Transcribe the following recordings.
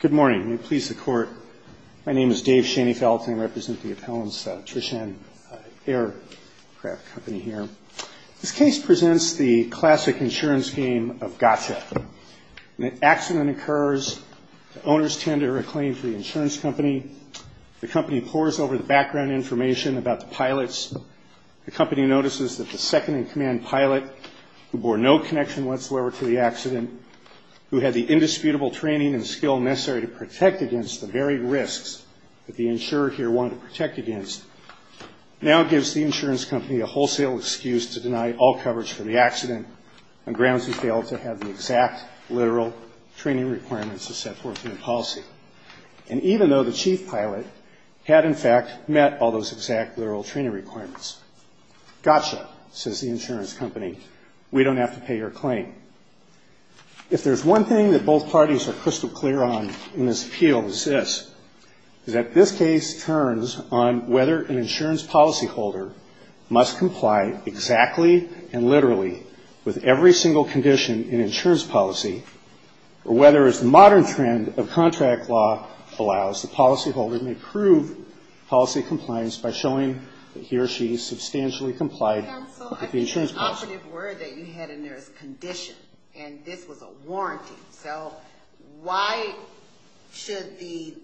Good morning. May it please the Court. My name is Dave Schoenfeld and I represent the appellant's Trishan Aircraft Company here. This case presents the classic insurance game of gotcha. An accident occurs. The owners tend to reclaim for the insurance company. The company pours over the background information about the pilots. The company notices that the second-in-command pilot, who bore no connection whatsoever to the accident, who had the indisputable training and skill necessary to protect against the very risks that the insurer here wanted to protect against, now gives the insurance company a wholesale excuse to deny all coverage for the accident on grounds he failed to have the exact literal training requirements to set forth in the policy. And even though the chief pilot had, in fact, met all those exact literal training requirements. Gotcha, says the insurance company. We don't have to pay your claim. If there's one thing that both parties are crystal clear on in this appeal is this, is that this case turns on whether an insurance policyholder must comply exactly and literally with every single condition in insurance policy, or whether, as the modern trend of contract law allows, the policyholder may prove policy compliance by showing that he or she substantially complied with the insurance policy. So the definitive word that you had in there is condition. And this was a warranty. So why should the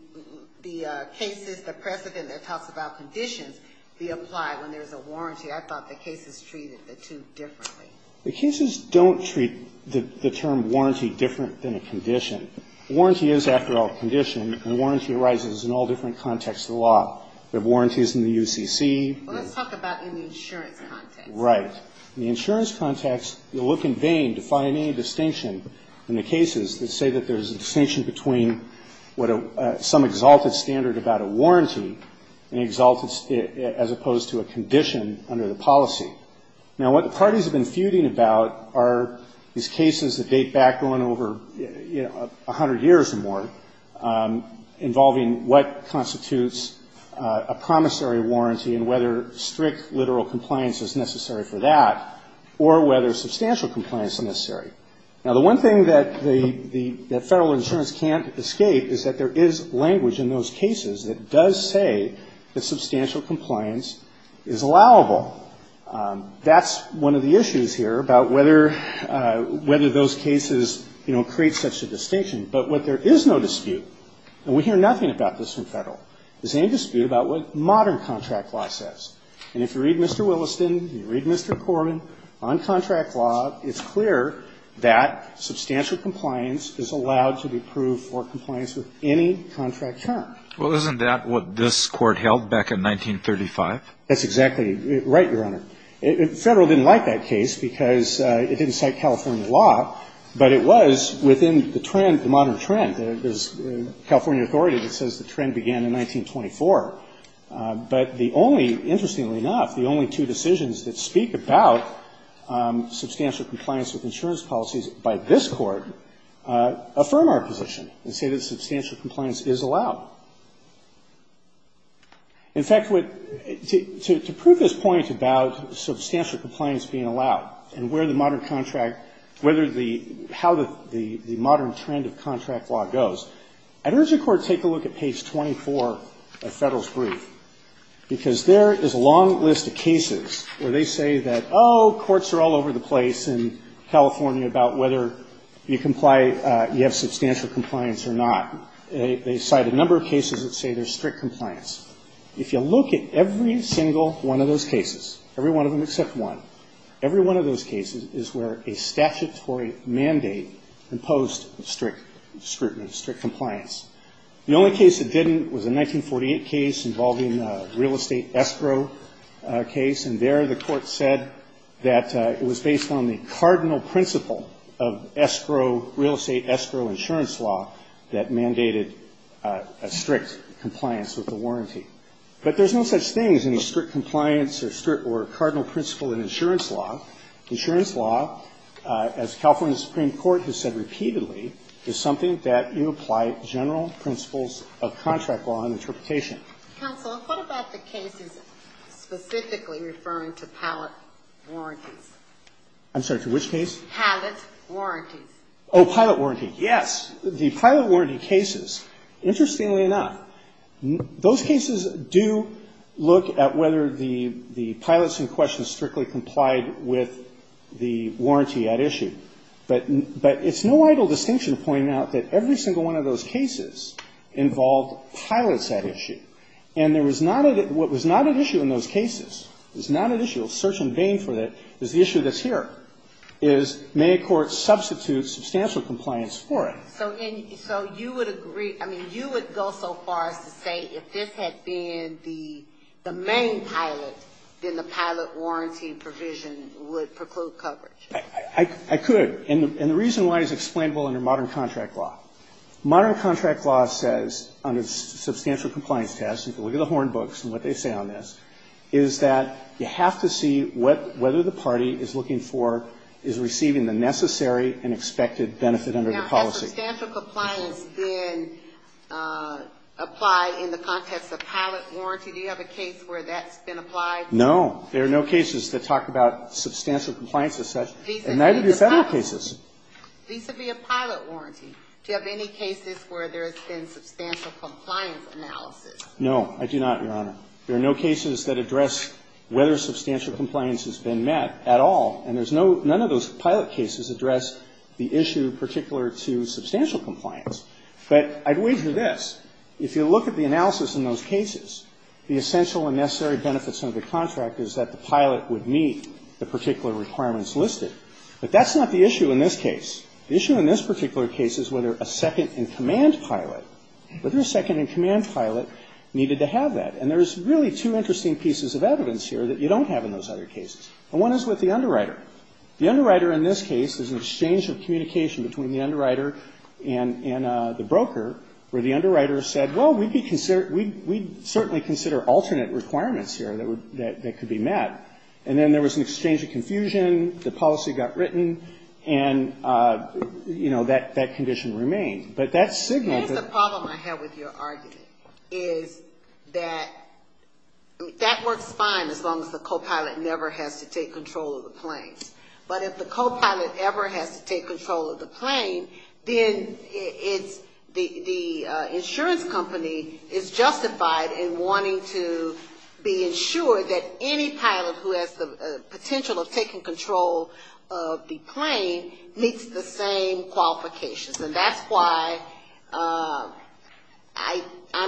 cases, the precedent that talks about conditions, be applied when there's a warranty? I thought the cases treated the two differently. The cases don't treat the term warranty different than a condition. Warranty is, after all, a condition, and warranty arises in all different contexts of the law. There are warranties in the UCC. Well, let's talk about in the insurance context. Right. In the insurance context, you look in vain to find any distinction in the cases that say that there's a distinction between what a – some exalted standard about a warranty and an exalted – as opposed to a condition under the policy. Now, what the parties have been feuding about are these cases that date back going over, you know, a hundred years or more, involving what constitutes a promissory warranty and whether strict literal compliance is necessary for that, or whether substantial compliance is necessary. Now, the one thing that the – that Federal insurance can't escape is that there is language in those cases that does say that substantial compliance is allowable. That's one of the issues here about whether – whether those cases, you know, create such a distinction. But what there is no dispute, and we hear nothing about this from Federal, is any dispute about what modern contract law says. And if you read Mr. Williston, you read Mr. Corman, on contract law, it's clear that substantial compliance is allowed to be approved for compliance with any contract term. Well, isn't that what this Court held back in 1935? That's exactly right, Your Honor. Federal didn't like that case because it didn't cite California law, but it was within the trend, the modern trend. There's a California authority that says the trend began in 1924. But the only – interestingly enough, the only two decisions that speak about substantial compliance with insurance policies by this Court affirm our position and say that substantial compliance is allowed. In fact, to prove this point about substantial compliance being allowed and where the modern contract – whether the – how the modern trend of contract law goes, I'd urge the Court to take a look at page 24 of Federal's brief, because there is a long list of cases where they say that, oh, courts are all over the place in California about whether you comply – you have substantial compliance or not. They cite a number of cases that say there's strict compliance. If you look at every single one of those cases, every one of them except one, every one of those cases is where a statutory mandate imposed strict scrutiny, strict compliance. The only case that didn't was a 1948 case involving a real estate escrow case, and there the Court said that it was based on the cardinal principle of escrow – real estate escrow insurance law that mandated a strict compliance with the warranty. But there's no such thing as any strict compliance or strict – or cardinal principle in insurance law. Insurance law, as California's Supreme Court has said repeatedly, is something that you apply general principles of contract law and interpretation. Counsel, what about the cases specifically referring to pilot warranties? I'm sorry. To which case? Pilot warranties. Oh, pilot warranties, yes. The pilot warranty cases, interestingly enough, those cases do look at whether the pilots in question strictly complied with the warranty at issue. But it's no idle distinction to point out that every single one of those cases involved pilots at issue. And there was not a – what was not at issue in those cases, was not at issue, a search in vain for that, is the issue that's here, is may a court substitute substantial compliance for it? So you would agree – I mean, you would go so far as to say if this had been the main pilot, then the pilot warranty provision would preclude coverage? I could. And the reason why it's explainable under modern contract law. Modern contract law says, under substantial compliance tests – you can look at the Horn books and what they say on this – is that you have to see what – whether the party is looking for – is receiving the necessary and expected benefit under the policy. Now, does substantial compliance then apply in the context of pilot warranty? Do you have a case where that's been applied? No. There are no cases that talk about substantial compliance as such. And neither do Federal cases. Vis-a-vis a pilot warranty, do you have any cases where there has been substantial compliance analysis? No, I do not, Your Honor. There are no cases that address whether substantial compliance has been met at all. And there's no – none of those pilot cases address the issue particular to substantial compliance. But I'd wager this. If you look at the analysis in those cases, the essential and necessary benefits under the contract is that the pilot would meet the particular requirements listed. But that's not the issue in this case. The issue in this particular case is whether a second-in-command pilot – whether a second-in-command pilot needed to have that. And there's really two interesting pieces of evidence here that you don't have in those other cases. The one is with the underwriter. The underwriter in this case is an exchange of communication between the underwriter and the broker where the underwriter said, well, we'd be – we'd certainly consider alternate requirements here that could be met. And then there was an exchange of confusion. The policy got written. And, you know, that condition remained. But that signaled that – Here's the problem I have with your argument, is that that works fine as long as the copilot never has to take control of the planes. But if the copilot ever has to take control of the plane, then it's – the insurance company is justified in wanting to be ensured that any pilot who has the potential of taking control of the plane meets the same qualifications. And that's why I'm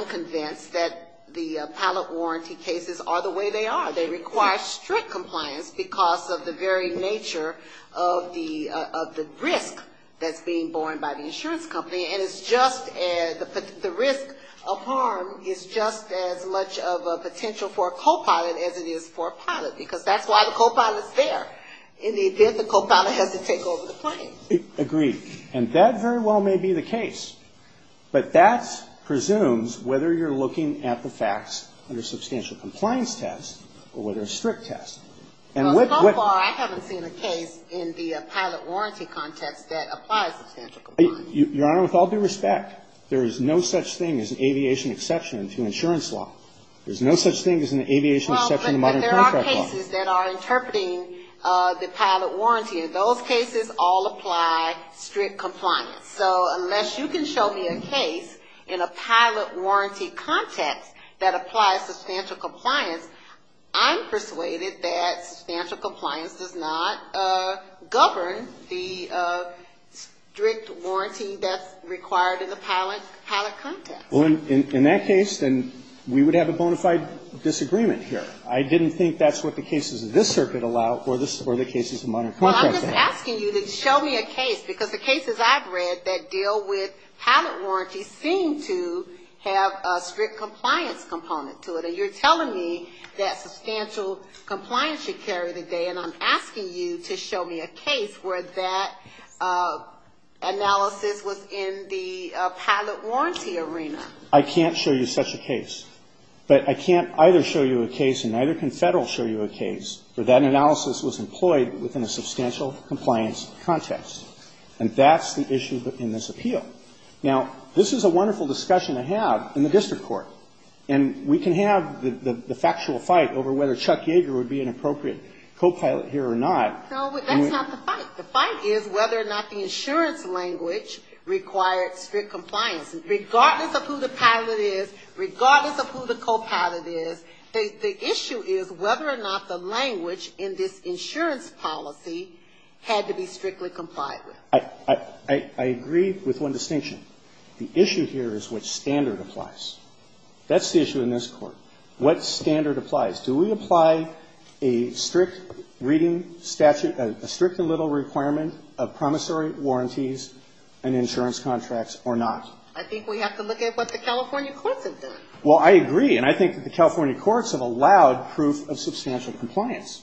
convinced that the pilot warranty cases are the way they are. They require strict compliance because of the very nature of the risk that's being borne by the insurance company. And it's just – the risk of harm is just as much of a potential for a copilot as it is for a pilot, because that's why the copilot is there in the event the copilot has to take over the plane. And that very well may be the case. But that presumes whether you're looking at the facts under a substantial compliance test or whether a strict test. And with – Well, so far, I haven't seen a case in the pilot warranty context that applies substantial compliance. Your Honor, with all due respect, there is no such thing as an aviation exception to insurance law. There's no such thing as an aviation exception to modern contract law. Well, but there are cases that are interpreting the pilot warranty, and those cases all apply strict compliance. So unless you can show me a case in a pilot warranty context that applies substantial compliance, I'm persuaded that substantial compliance does not govern the strict warranty that's required in the pilot context. Well, in that case, then we would have a bona fide disagreement here. I didn't think that's what the cases of this circuit allow or the cases of modern contract law. Well, I'm just asking you to show me a case, because the cases I've read that deal with pilot warranties seem to have a strict compliance component to it. And you're telling me that substantial compliance should carry the day, and I'm asking you to show me a case where that analysis was in the pilot warranty arena. I can't show you such a case. But I can't either show you a case and neither can Federal show you a case where that analysis was employed within a substantial compliance context. And that's the issue in this appeal. Now, this is a wonderful discussion to have in the district court. And we can have the factual fight over whether Chuck Yeager would be an appropriate copilot here or not. No, but that's not the fight. The fight is whether or not the insurance language requires strict compliance. Regardless of who the pilot is, regardless of who the copilot is, the issue is whether or not the language in this insurance language is appropriate. And that's the issue. The issue here is whether or not the insurance policy had to be strictly complied with. I agree with one distinction. The issue here is what standard applies. That's the issue in this Court. What standard applies? Do we apply a strict reading statute, a strict and little requirement of promissory warranties and insurance contracts or not? I think we have to look at what the California courts have done. Well, I agree. And I think that the California courts have allowed proof of substantial compliance.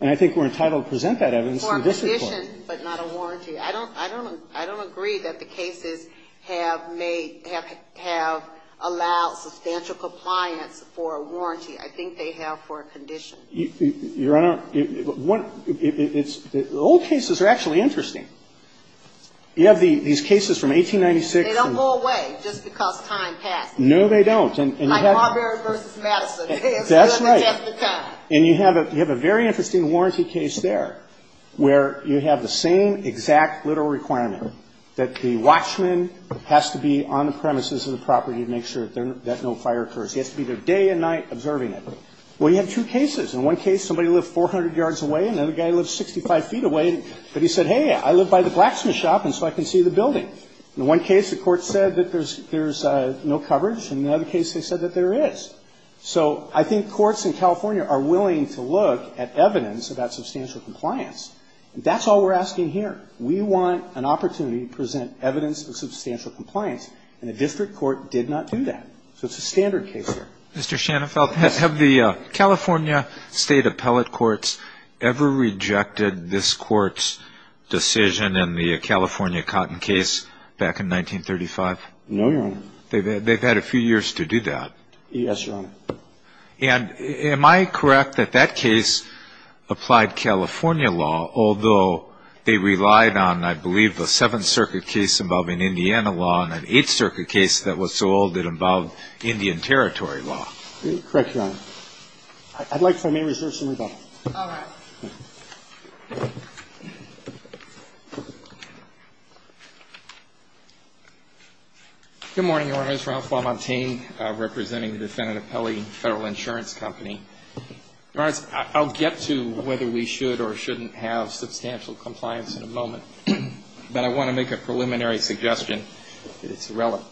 And I think we're entitled to present that evidence to the district court. For a condition, but not a warranty. I don't agree that the cases have made or have allowed substantial compliance for a warranty. I think they have for a condition. Your Honor, the old cases are actually interesting. You have these cases from 1896. They don't go away just because time passed. No, they don't. Like Marbury v. Madison. That's right. And you have a very interesting warranty case there where you have the same exact literal requirement that the watchman has to be on the premises of the property to make sure that no fire occurs. He has to be there day and night observing it. Well, you have two cases. In one case, somebody lived 400 yards away. Another guy lived 65 feet away. But he said, hey, I live by the blacksmith shop, and so I can see the building. In one case, the court said that there's no coverage. In the other case, they said that there is. So I think courts in California are willing to look at evidence about substantial compliance. That's all we're asking here. We want an opportunity to present evidence of substantial compliance, and the district court did not do that. So it's a standard case there. Mr. Shanafelt, have the California State Appellate Courts ever rejected this court's decision in the California Cotton case back in 1935? No, Your Honor. They've had a few years to do that. Yes, Your Honor. And am I correct that that case applied California law, although they relied on, I believe, the Seventh Circuit case involving Indiana law and an Eighth Circuit case that was so old that it involved Indian Territory law? Correct, Your Honor. I'd like to make research and rebuttal. All right. Good morning, Your Honor. My name is Ralph LaMontagne, representing the defendant appellee in the Federal Insurance Company. Your Honor, I'll get to whether we should or shouldn't have substantial compliance in a moment, but I want to make a preliminary suggestion that it's irrelevant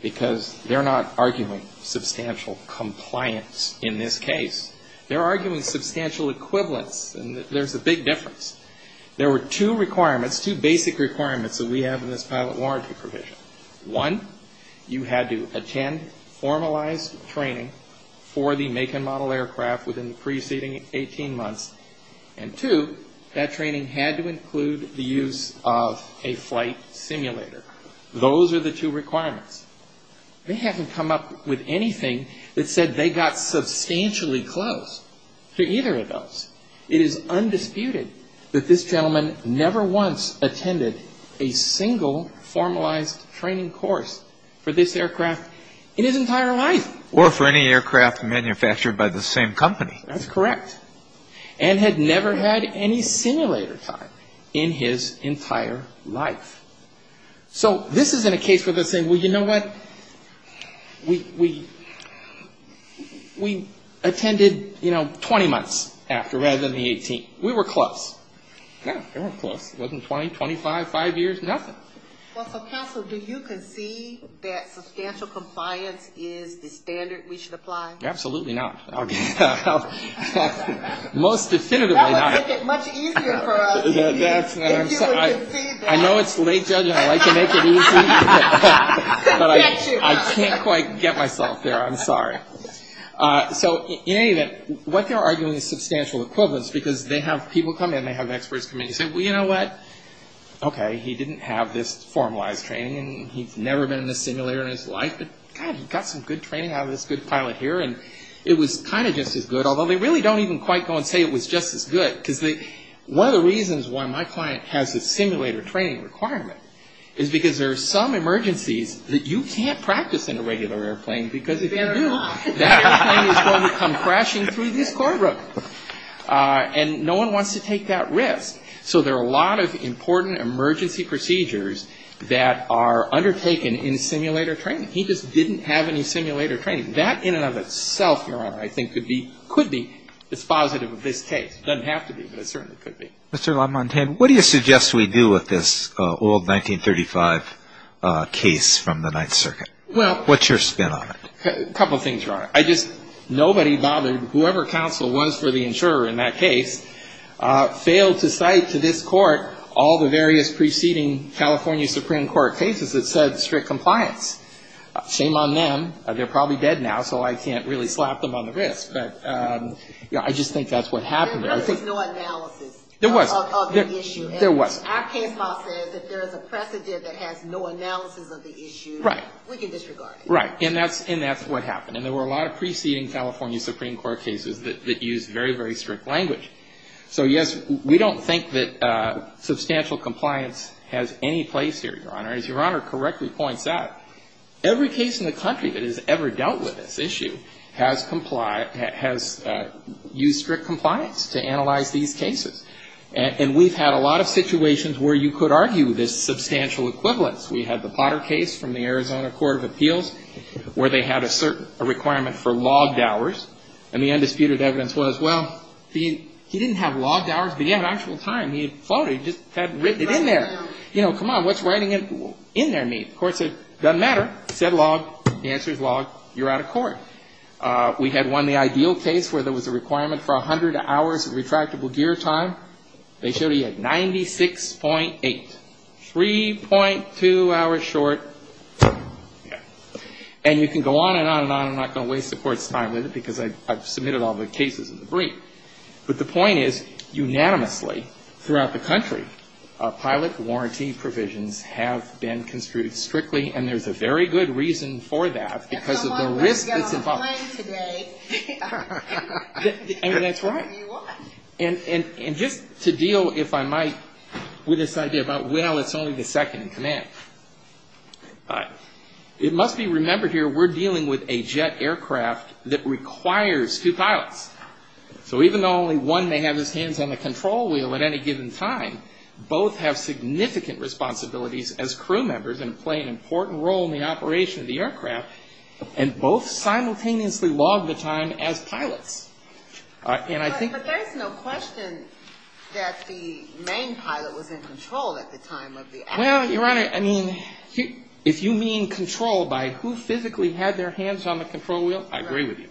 because they're not arguing substantial compliance in this case. They're arguing substantial equivalence, and there's a big difference. There were two requirements, two basic requirements that we have in this pilot warranty provision. One, you had to attend formalized training for the make and model aircraft within the preceding 18 months, and two, that training had to include the use of a flight simulator. Those are the two requirements. They haven't come up with anything that said they got substantially close to either of those. It is undisputed that this gentleman never once attended a single formalized training course for this aircraft in his entire life. Or for any aircraft manufactured by the same company. That's correct. And had never had any simulator time in his entire life. So this isn't a case where they're saying, well, you know what, we attended, you know, 20 months after rather than the 18th. We were close. No, they weren't close. It wasn't 20, 25, five years, nothing. Well, so counsel, do you concede that substantial compliance is the standard we should apply? Absolutely not. Most definitively not. That would make it much easier for us if you would concede that. I know it's late, Judge, and I like to make it easy. But I can't quite get myself there. I'm sorry. So in any event, what they're arguing is substantial equivalence, because they have people come in, they have experts come in, and say, well, you know what, okay, he didn't have this formalized training, and he's never been in a simulator in his life, but, God, he got some good training out of this good pilot here. And it was kind of just as good, although they really don't even quite go and say it was just as good. Because one of the reasons why my client has a simulator training requirement is because there are some emergencies that you can't practice in a regular airplane, because if you do, that airplane is going to come crashing through this cord rope. And no one wants to take that risk. So there are a lot of important emergency procedures that are undertaken in simulator training. He just didn't have any simulator training. That in and of itself, Your Honor, I think could be dispositive of this case. It doesn't have to be, but it certainly could be. Mr. LaMontagne, what do you suggest we do with this old 1935 case from the Ninth Circuit? What's your spin on it? A couple things, Your Honor. I just, nobody bothered, whoever counsel was for the insurer in that case, failed to cite to this court all the various preceding California Supreme Court cases that said strict compliance. Shame on them. They're probably dead now, so I can't really slap them on the wrist. But I just think that's what happened. There really is no analysis of the issue. There was. Our case law says if there is a precedent that has no analysis of the issue, we can disregard it. Right. And that's what happened. And there were a lot of preceding California Supreme Court cases that used very, very strict language. So, yes, we don't think that substantial compliance has any place here, Your Honor. As Your Honor correctly points out, every case in the country that has ever dealt with this issue has used strict compliance to analyze these cases. And we've had a lot of situations where you could argue this substantial equivalence. We had the Potter case from the Arizona Court of Appeals where they had a requirement for logged hours. And the undisputed evidence was, well, he didn't have logged hours, but he had actual time. He had floated. He just had written it in there. You know, come on. What's writing it in there mean? The court said, doesn't matter. It said log. The answer is log. You're out of court. We had one, the ideal case, where there was a requirement for 100 hours of retractable gear time. They showed he had 96.8. 3.2 hours short. And you can go on and on and on. I'm not going to waste the court's time with it because I've submitted all the cases in the brief. But the point is, unanimously throughout the country, pilot warranty provisions have been construed strictly, and there's a very good reason for that because of the risk that's involved. And that's right. And just to deal, if I might, with this idea about, well, it's only the second command. It must be remembered here, we're dealing with a jet aircraft that requires two pilots. So even though only one may have his hands on the control wheel at any given time, both have significant responsibilities as crew members and play an important role in the operation of the aircraft, and both simultaneously log the time as pilots. But there's no question that the main pilot was in control at the time of the accident. And, Your Honor, I mean, if you mean control by who physically had their hands on the control wheel, I agree with you.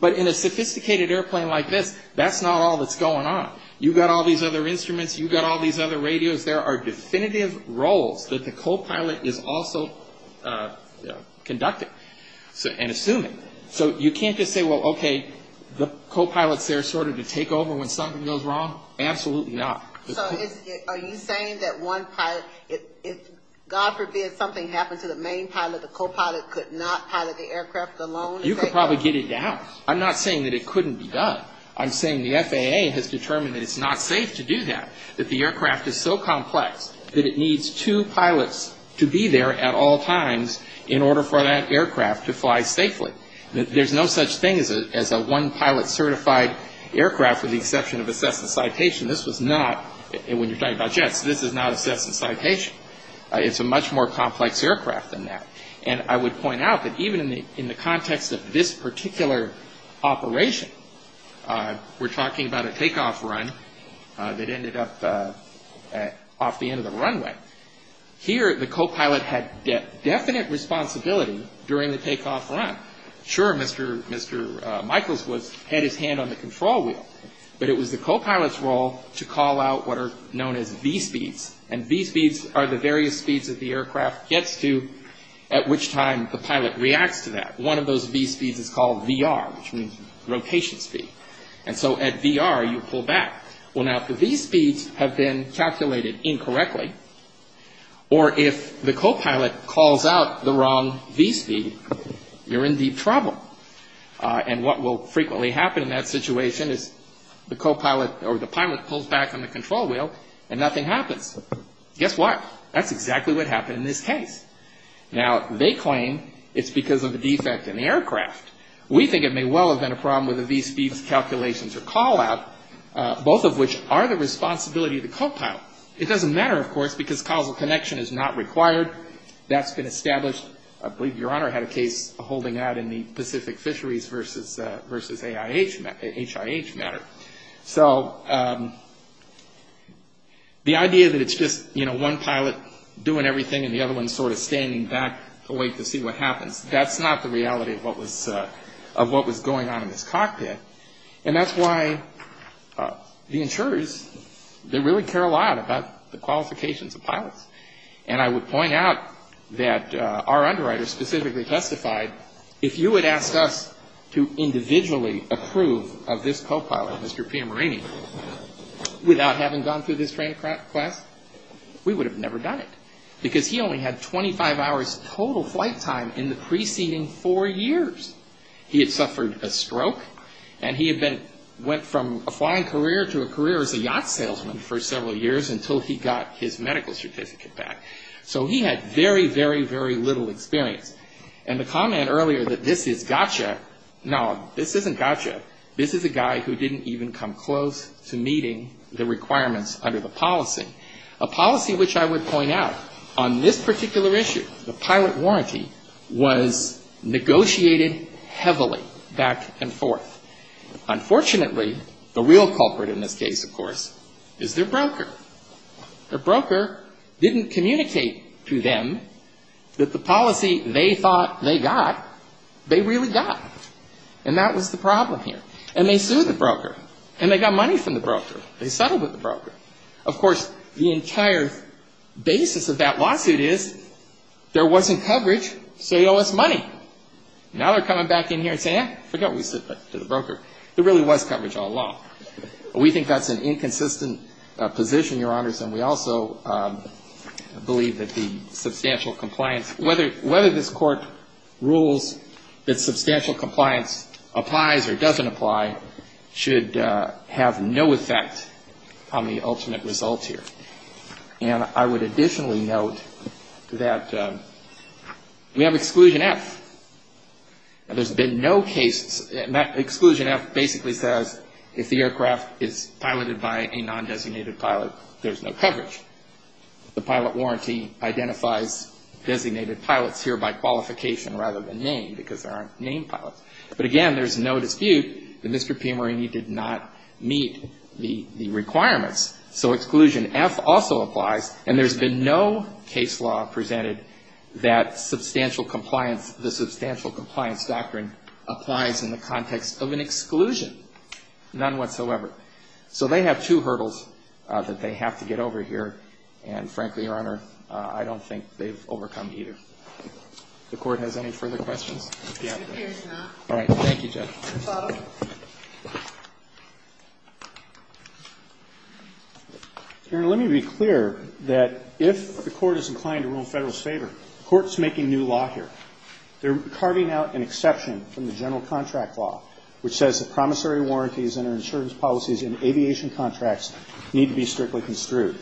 But in a sophisticated airplane like this, that's not all that's going on. You've got all these other instruments, you've got all these other radios. There are definitive roles that the copilot is also conducting and assuming. So you can't just say, well, okay, the copilot's there sort of to take over when something goes wrong. Absolutely not. So are you saying that one pilot, if God forbid something happened to the main pilot, the copilot could not pilot the aircraft alone? You could probably get it down. I'm not saying that it couldn't be done. I'm saying the FAA has determined that it's not safe to do that, that the aircraft is so complex that it needs two pilots to be there at all times in order for that aircraft to fly safely. There's no such thing as a one-pilot certified aircraft with the exception of a Cessna Citation. This was not, when you're talking about jets, this is not a Cessna Citation. It's a much more complex aircraft than that. And I would point out that even in the context of this particular operation, we're talking about a takeoff run that ended up off the end of the runway. Here the copilot had definite responsibility during the takeoff run. Sure, Mr. Michaels had his hand on the control wheel, but it was the copilot's call to call out what are known as V-speeds. And V-speeds are the various speeds that the aircraft gets to at which time the pilot reacts to that. One of those V-speeds is called VR, which means rotation speed. And so at VR, you pull back. Well, now if the V-speeds have been calculated incorrectly, or if the copilot calls out the wrong V-speed, you're in deep trouble. And what will frequently happen in that situation is the copilot or the pilot pulls back on the control wheel and nothing happens. Guess what? That's exactly what happened in this case. Now, they claim it's because of a defect in the aircraft. We think it may well have been a problem with the V-speeds calculations or call out, both of which are the responsibility of the copilot. It doesn't matter, of course, because causal connection is not required. That's been established. I believe Your Honor had a case holding out in the Pacific Fisheries versus HIH matter. So the idea that it's just, you know, one pilot doing everything and the other one sort of standing back to wait to see what happens, that's not the reality of what was going on in this cockpit. And that's why the insurers, they really care a lot about the qualifications of pilots. And I would point out that our underwriter specifically testified, if you would ask us to individually approve of this copilot, Mr. Piamarini, without having gone through this training class, we would have never done it. Because he only had 25 hours total flight time in the preceding four years. He had suffered a stroke and he had been, went from a flying career to a career as a yacht salesman for several years until he got his medical certificate back. So he had very, very, very little experience. And the comment earlier that this is gotcha, no, this isn't gotcha. This is a guy who didn't even come close to meeting the requirements under the policy. A policy which I would point out on this particular issue, the pilot warranty, was negotiated heavily back and forth. Unfortunately, the real culprit in this case, of course, is their broker. Their broker didn't communicate to them that the policy they thought they got, they really got. And that was the problem here. And they sued the broker. And they got money from the broker. They settled with the broker. Of course, the entire basis of that lawsuit is there wasn't coverage, so you owe us money. Now they're coming back in here and saying, eh, forget what we said to the broker. There really was coverage all along. We think that's an inconsistent position, Your Honors, and we also believe that the substantial compliance, whether this court rules that substantial compliance applies or doesn't apply, should have no effect on the ultimate result here. And I would additionally note that we have exclusion F. Now there's been no case, exclusion F basically says if the aircraft is piloted by a non-designated pilot, there's no coverage. The pilot warranty identifies designated pilots here by qualification rather than name because there aren't named pilots. But again, there's no dispute that Mr. P. Marini did not meet the requirements. So exclusion F also applies, and there's been no case law presented that substantial compliance, the substantial compliance doctrine applies in the context of an exclusion. None whatsoever. So they have two hurdles that they have to get over here, and frankly, Your Honor, I don't think they've overcome either. The Court has any further questions? Yeah. All right. Thank you, Judge. Your Honor, let me be clear that if the Court is inclined to rule in Federal's favor, the Court's making new law here. They're carving out an exception from the general contract law, which says that promissory warranties and our insurance policies in aviation contracts need to be strictly construed.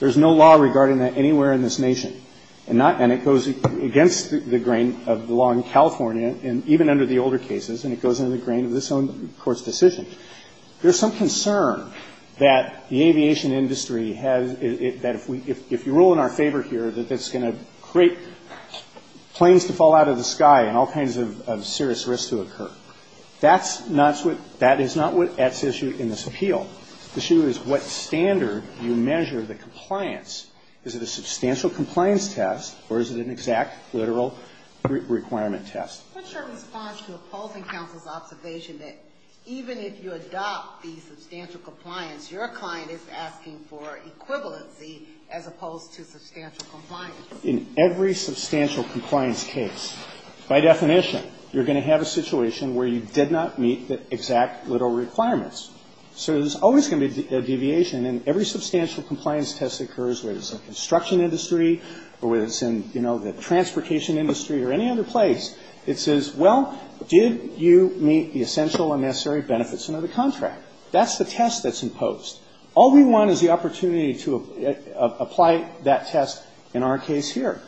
There's no law regarding that anywhere in this Nation, and it goes against the grain of the law in California, and even under the older cases, and it goes in the grain of this Court's decision. There's some concern that the aviation industry has, that if you rule in our favor here, that it's going to create planes to fall out of the sky and all kinds of serious risks to occur. That's not what's at issue in this appeal. The issue is what standard you measure the compliance. Is it a substantial compliance test, or is it an exact, literal requirement test? What's your response to opposing counsel's observation that even if you adopt the In every substantial compliance case, by definition, you're going to have a situation where you did not meet the exact, literal requirements. So there's always going to be a deviation, and every substantial compliance test that occurs, whether it's in the construction industry or whether it's in, you know, the transportation industry or any other place, it says, well, did you meet the essential and necessary benefits under the contract? That's the test that's imposed. All we want is the opportunity to apply that test in our case here.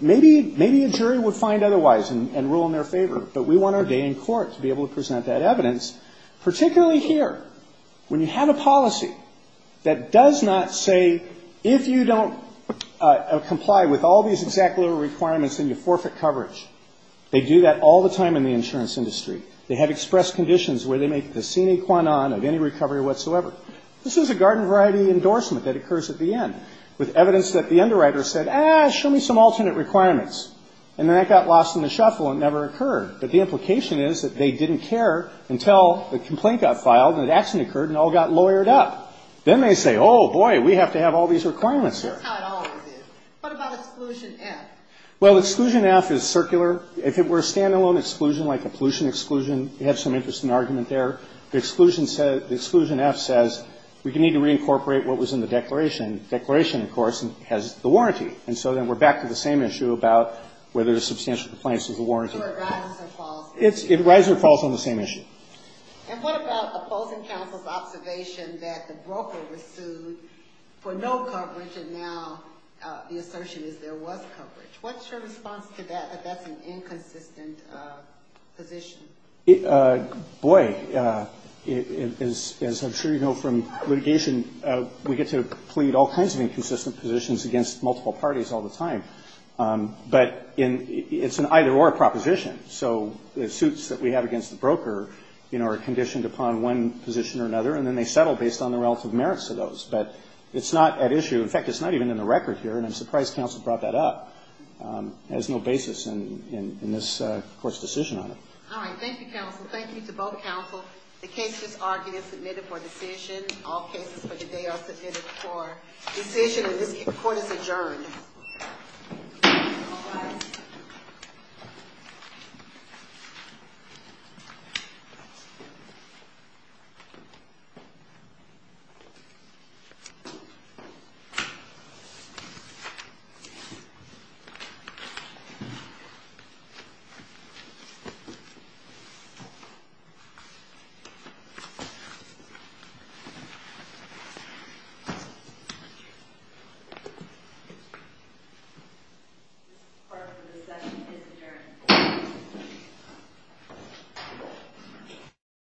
Maybe a jury would find otherwise and rule in their favor, but we want our day in court to be able to present that evidence, particularly here, when you have a policy that does not say if you don't comply with all these exact, literal requirements, then you forfeit coverage. They do that all the time in the insurance industry. They have expressed conditions where they make the sine qua non of any recovery whatsoever. This is a garden variety endorsement that occurs at the end, with evidence that the underwriter said, ah, show me some alternate requirements. And then that got lost in the shuffle and never occurred. But the implication is that they didn't care until the complaint got filed and action occurred and all got lawyered up. Then they say, oh, boy, we have to have all these requirements here. That's how it always is. What about exclusion F? Well, exclusion F is circular. If it were a standalone exclusion, like a pollution exclusion, you have some interesting argument there. The exclusion F says we need to reincorporate what was in the declaration. Declaration, of course, has the warranty. And so then we're back to the same issue about whether there's substantial complaints, there's a warranty. So it rises or falls? It rises or falls on the same issue. And what about opposing counsel's observation that the broker was sued for no coverage and now the assertion is there was coverage? What's your response to that, that that's an inconsistent position? Boy, as I'm sure you know from litigation, we get to plead all kinds of inconsistent positions against multiple parties all the time. But it's an either-or proposition. So the suits that we have against the broker are conditioned upon one position or another, and then they settle based on the relative merits of those. But it's not at issue. In fact, it's not even in the record here, and I'm surprised counsel brought that up as no basis in this Court's decision on it. All right. Thank you, counsel. Thank you to both counsel. The cases are being submitted for decision. All cases for today are submitted for decision, and this Court is adjourned. Thank you.